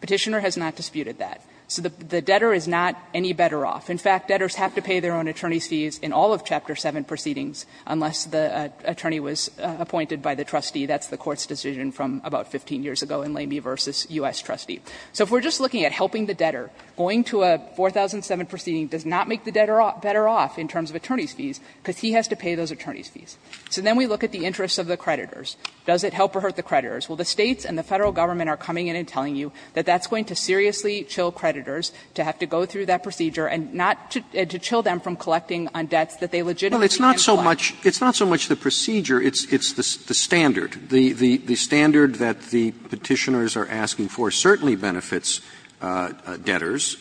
Petitioner has not disputed that. So the debtor is not any better off. In fact, debtors have to pay their own attorneys' fees in all of Chapter 7 proceedings unless the attorney was appointed by the trustee. That's the Court's decision from about 15 years ago in Lamey v. U.S. Trustee. So if we're just looking at helping the debtor, going to a 4007 proceeding does not make the debtor better off in terms of attorneys' fees, because he has to pay those attorneys' fees. So then we look at the interests of the creditors. Does it help or hurt the creditors? Well, the States and the Federal Government are coming in and telling you that that's going to seriously chill creditors to have to go through that procedure and not to chill them from collecting on debts that they legitimately can't apply. Well, it's not so much the procedure, it's the standard. The standard that the Petitioners are asking for certainly benefits debtors.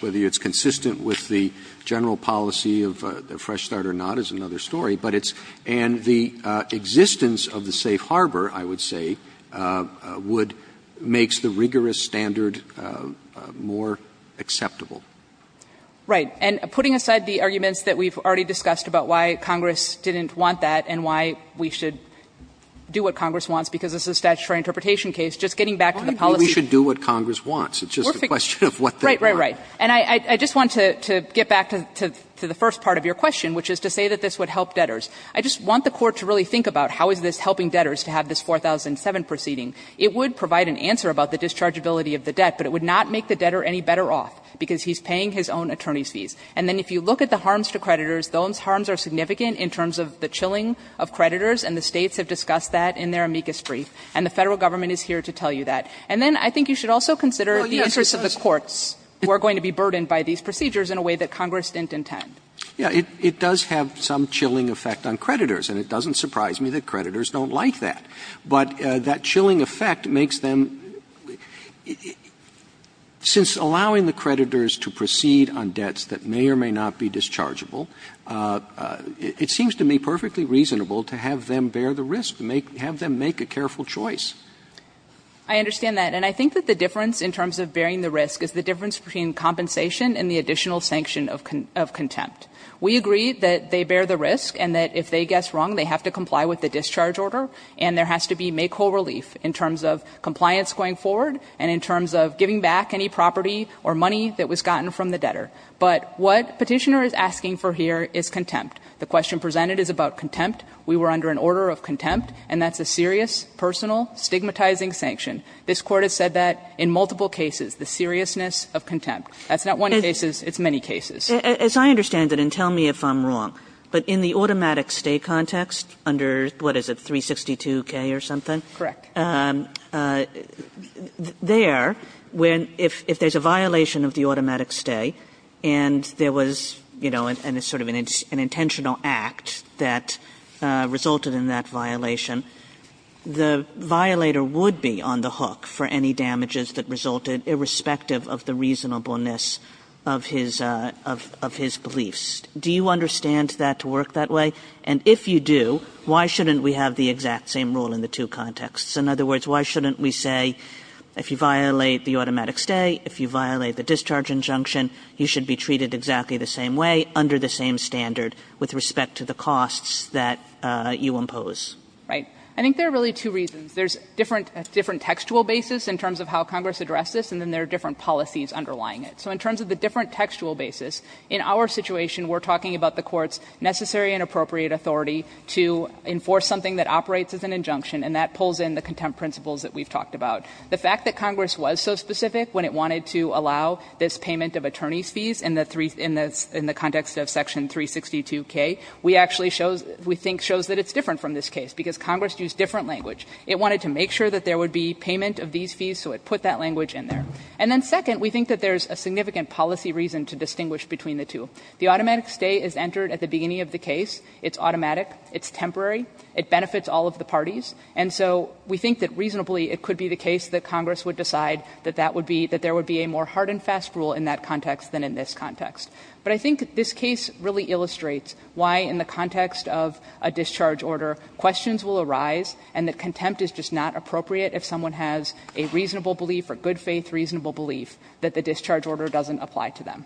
Whether it's consistent with the general policy of Fresh Start or not is another story. But it's – and the existence of the safe harbor, I would say, would – makes the rigorous standard more acceptable. Right. And putting aside the arguments that we've already discussed about why Congress didn't want that and why we should do what Congress wants, because this is a statutory interpretation case, just getting back to the policy – I don't think we should do what Congress wants. It's just a question of what they want. Right, right, right. And I just want to get back to the first part of your question, which is to say that this would help debtors. I just want the Court to really think about how is this helping debtors to have this 4007 proceeding. It would provide an answer about the dischargeability of the debt, but it would not make the debtor any better off, because he's paying his own attorney's fees. And then if you look at the harms to creditors, those harms are significant in terms of the chilling of creditors, and the States have discussed that in their amicus brief. And the Federal Government is here to tell you that. And then I think you should also consider the interests of the courts who are going to be burdened by these procedures in a way that Congress didn't intend. Yeah. It does have some chilling effect on creditors, and it doesn't surprise me that creditors don't like that. But that chilling effect makes them ‑‑ since allowing the creditors to proceed on debts that may or may not be dischargeable, it seems to me perfectly reasonable to have them bear the risk, have them make a careful choice. I understand that. And I think that the difference in terms of bearing the risk is the difference between compensation and the additional sanction of contempt. We agree that they bear the risk, and that if they guess wrong, they have to comply with the discharge order. And there has to be makehole relief in terms of compliance going forward and in terms of giving back any property or money that was gotten from the debtor. But what Petitioner is asking for here is contempt. The question presented is about contempt. We were under an order of contempt, and that's a serious, personal, stigmatizing sanction. This Court has said that in multiple cases, the seriousness of contempt. That's not one case, it's many cases. As I understand it, and tell me if I'm wrong, but in the automatic stay context under, what is it, 362K or something? Correct. There, when, if there's a violation of the automatic stay, and there was, you know, and it's sort of an intentional act that resulted in that violation, the violator would be on the hook for any damages that resulted irrespective of the reasonableness of his beliefs. Do you understand that to work that way? And if you do, why shouldn't we have the exact same rule in the two contexts? In other words, why shouldn't we say if you violate the automatic stay, if you violate the discharge injunction, you should be treated exactly the same way under the same standard with respect to the costs that you impose? Right. I think there are really two reasons. There's different textual basis in terms of how Congress addressed this, and then there are different policies underlying it. So in terms of the different textual basis, in our situation, we're talking about the Court's necessary and appropriate authority to enforce something that operates as an injunction, and that pulls in the contempt principles that we've talked about. The fact that Congress was so specific when it wanted to allow this payment of attorney's fees in the context of section 362K, we actually show, we think shows that it's different from this case, because Congress used different language. It wanted to make sure that there would be payment of these fees, so it put that language in there. And then second, we think that there's a significant policy reason to distinguish between the two. The automatic stay is entered at the beginning of the case. It's automatic. It's temporary. It benefits all of the parties. And so we think that reasonably, it could be the case that Congress would decide that that would be, that there would be a more hard and fast rule in that context than in this context. But I think this case really illustrates why in the context of a discharge order, questions will arise, and the contempt is just not appropriate if someone has a reasonable belief or good faith reasonable belief that the discharge order doesn't apply to them.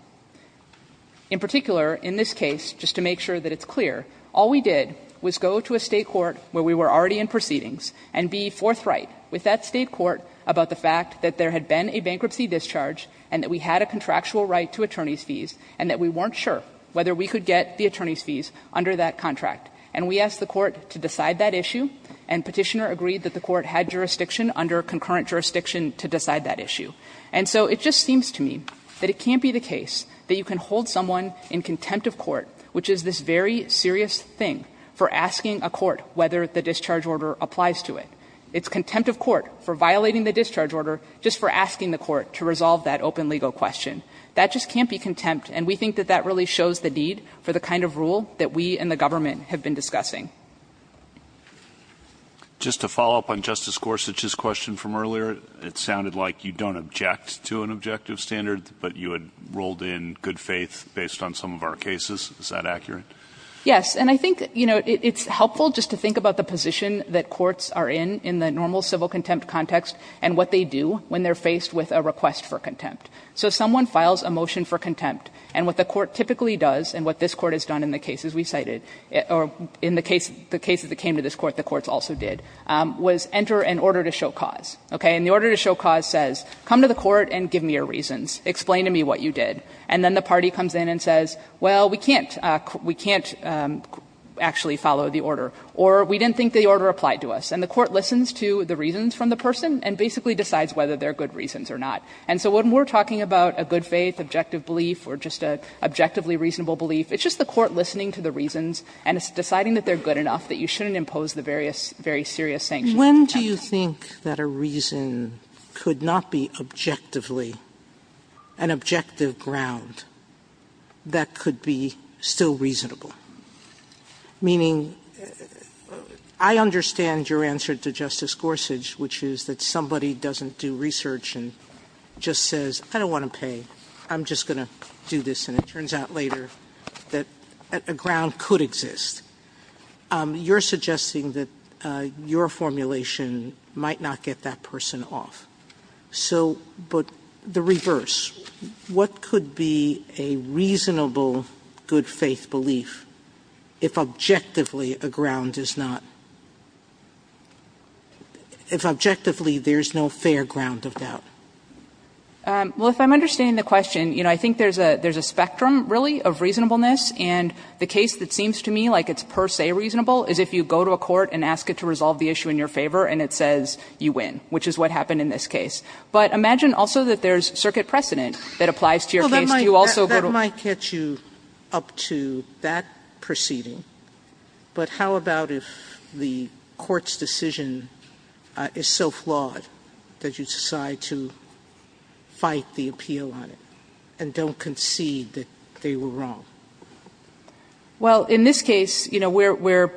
In particular, in this case, just to make sure that it's clear, all we did was go to a State court where we were already in proceedings and be forthright with that State court about the fact that there had been a bankruptcy discharge and that we had a contractual right to attorney's fees and that we weren't sure whether we could get the attorney's fees under that contract. And we asked the court to decide that issue, and Petitioner agreed that the court had jurisdiction under concurrent jurisdiction to decide that issue. And so it just seems to me that it can't be the case that you can hold someone in contempt of court, which is this very serious thing, for asking a court whether the discharge order applies to it. It's contempt of court for violating the discharge order just for asking the court to resolve that open legal question. That just can't be contempt, and we think that that really shows the need for the kind of rule that we and the government have been discussing. Just to follow up on Justice Gorsuch's question from earlier, it sounded like you don't object to an objective standard, but you had rolled in good faith based on some of our cases. Is that accurate? Yes. And I think, you know, it's helpful just to think about the position that courts are in in the normal civil contempt context and what they do when they're faced with a request for contempt. So if someone files a motion for contempt, and what the court typically does and what this court has done in the cases we cited, or in the cases that we cited, the cases that came to this court, the courts also did, was enter an order to show cause. Okay? And the order to show cause says, come to the court and give me your reasons. Explain to me what you did. And then the party comes in and says, well, we can't actually follow the order, or we didn't think the order applied to us. And the court listens to the reasons from the person and basically decides whether they're good reasons or not. And so when we're talking about a good faith, objective belief, or just an objectively reasonable belief, it's just the court listening to the reasons and deciding that they're good enough, that you shouldn't impose the very serious sanctions. Sotomayor When do you think that a reason could not be objectively, an objective ground, that could be still reasonable? Meaning, I understand your answer to Justice Gorsuch, which is that somebody doesn't do research and just says, I don't want to pay, I'm just going to do this. And it turns out later that a ground could exist. You're suggesting that your formulation might not get that person off. So, but the reverse. What could be a reasonable good faith belief if objectively a ground is not, if objectively there's no fair ground of doubt? Well, if I'm understanding the question, you know, I think there's a spectrum, really, of reasonableness. And the case that seems to me like it's per se reasonable is if you go to a court and ask it to resolve the issue in your favor and it says you win, which is what happened in this case. But imagine also that there's circuit precedent that applies to your case. Do you also go to a court? Sotomayor Well, that might catch you up to that proceeding. But how about if the court's decision is so flawed that you decide to fight the appeal on it and don't concede that they were wrong? Well, in this case, you know, we're,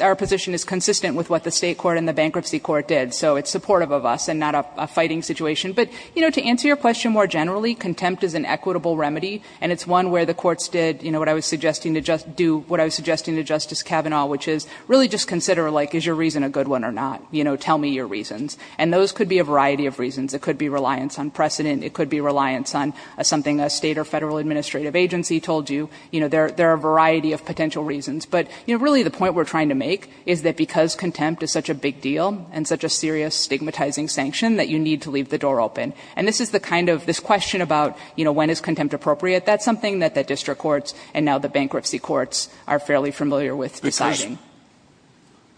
our position is consistent with what the state court and the bankruptcy court did. So it's supportive of us and not a fighting situation. But, you know, to answer your question more generally, contempt is an equitable remedy. And it's one where the courts did, you know, what I was suggesting to do, what I was suggesting to Justice Kavanaugh, which is really just consider, like, is your reason a good one or not, you know, tell me your reasons. And those could be a variety of reasons. It could be reliance on precedent. It could be reliance on something a state or federal administrative agency told you. You know, there are a variety of potential reasons. But, you know, really the point we're trying to make is that because contempt is such a big deal and such a serious stigmatizing sanction that you need to leave the door open. And this is the kind of, this question about, you know, when is contempt appropriate, that's something that the district courts and now the bankruptcy courts are fairly familiar with deciding.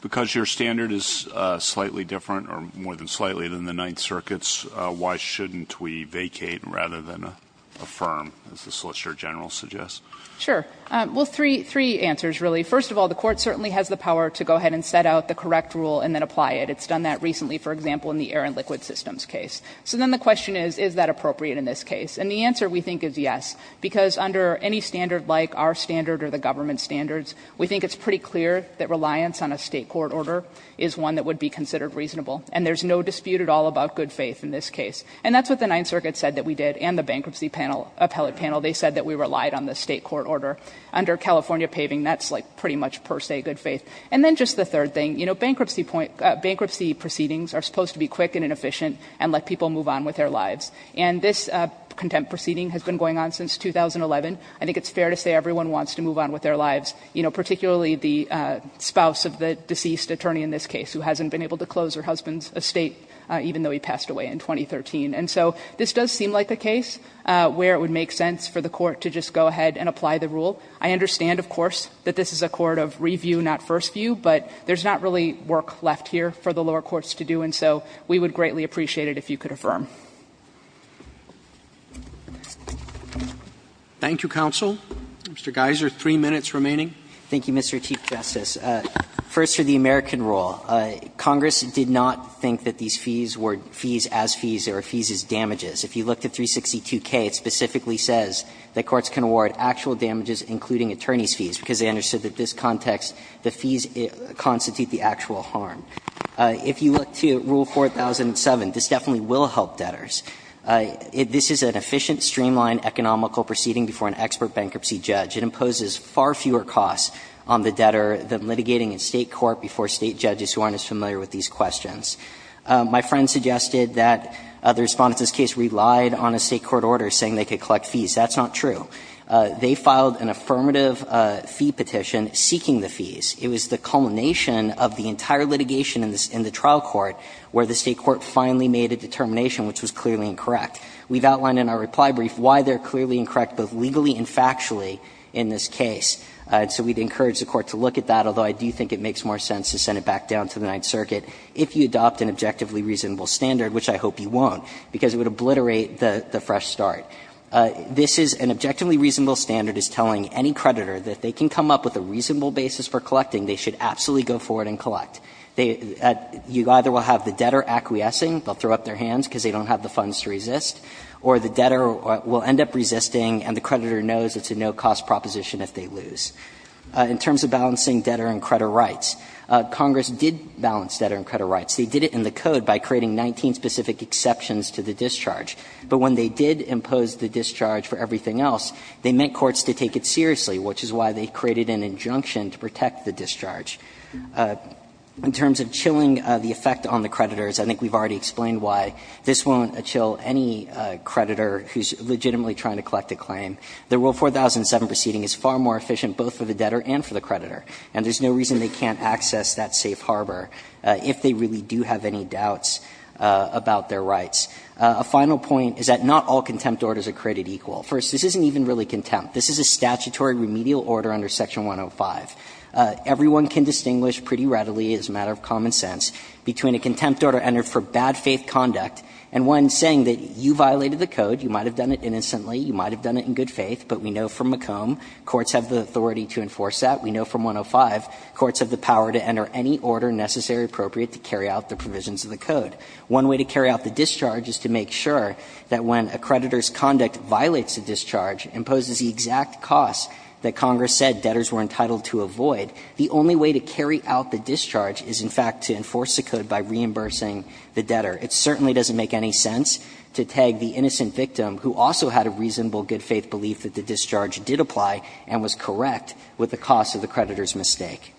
Because your standard is slightly different or more than slightly than the Ninth Circuits, why shouldn't we vacate rather than affirm, as the Solicitor General suggests? Sure. Well, three answers, really. First of all, the court certainly has the power to go ahead and set out the correct rule and then apply it. It's done that recently, for example, in the air and liquid systems case. So then the question is, is that appropriate in this case? And the answer, we think, is yes. Because under any standard like our standard or the government standards, we think it's pretty clear that reliance on a state court order is one that would be considered reasonable. And there's no dispute at all about good faith in this case. And that's what the Ninth Circuit said that we did and the bankruptcy panel, appellate panel. They said that we relied on the state court order. Under California paving, that's like pretty much per se good faith. And then just the third thing, you know, bankruptcy proceedings are supposed to be quick and inefficient and let people move on with their lives. And this contempt proceeding has been going on since 2011. I think it's fair to say everyone wants to move on with their lives, you know, particularly the spouse of the deceased attorney in this case who hasn't been able to close her husband's estate, even though he passed away in 2013. And so this does seem like a case where it would make sense for the court to just go ahead and apply the rule. I understand, of course, that this is a court of review, not first view, but there's not really work left here for the lower courts to do. And so we would greatly appreciate it if you could affirm. Roberts. Thank you, counsel. Mr. Geiser, three minutes remaining. Thank you, Mr. Chief Justice. First, for the American rule, Congress did not think that these fees were fees as fees or fees as damages. If you look to 362K, it specifically says that courts can award actual damages, including attorney's fees, because they understood that this context, the fees constitute the actual harm. If you look to Rule 4007, this definitely will help debtors. This is an efficient, streamlined, economical proceeding before an expert bankruptcy judge. It imposes far fewer costs on the debtor than litigating in State court before State judges who aren't as familiar with these questions. My friend suggested that the Respondents' case relied on a State court order saying they could collect fees. That's not true. They filed an affirmative fee petition seeking the fees. It was the culmination of the entire litigation in the trial court where the State court finally made a determination which was clearly incorrect. We've outlined in our reply brief why they're clearly incorrect, both legally and factually, in this case. So we'd encourage the Court to look at that, although I do think it makes more sense to send it back down to the Ninth Circuit if you adopt an objectively reasonable standard, which I hope you won't, because it would obliterate the fresh start. This is an objectively reasonable standard is telling any creditor that they can come up with a reasonable basis for collecting, they should absolutely go for it and collect. You either will have the debtor acquiescing, they'll throw up their hands because they don't have the funds to resist, or the debtor will end up resisting and the creditor knows it's a no-cost proposition if they lose. In terms of balancing debtor and creditor rights, Congress did balance debtor and creditor rights. They did it in the Code by creating 19 specific exceptions to the discharge, but when they did impose the discharge for everything else, they meant courts to take it seriously, which is why they created an injunction to protect the discharge. In terms of chilling the effect on the creditors, I think we've already explained why this won't chill any creditor who's legitimately trying to collect a claim. The Rule 4007 proceeding is far more efficient both for the debtor and for the creditor, and there's no reason they can't access that safe harbor if they really do have any doubts about their rights. A final point is that not all contempt orders are created equal. First, this isn't even really contempt. This is a statutory remedial order under Section 105. Everyone can distinguish pretty readily, as a matter of common sense, between a contempt order entered for bad faith conduct and one saying that you violated the Code, you might have done it innocently, you might have done it in good faith, but we know from McComb courts have the authority to enforce that. We know from 105 courts have the power to enter any order necessary or appropriate to carry out the provisions of the Code. One way to carry out the discharge is to make sure that when a creditor's conduct violates the discharge, imposes the exact cost that Congress said debtors were entitled to avoid, the only way to carry out the discharge is, in fact, to enforce the Code by reimbursing the debtor. It certainly doesn't make any sense to tag the innocent victim who also had a reasonable good faith belief that the discharge did apply and was correct with the cost of the creditor's mistake. Roberts.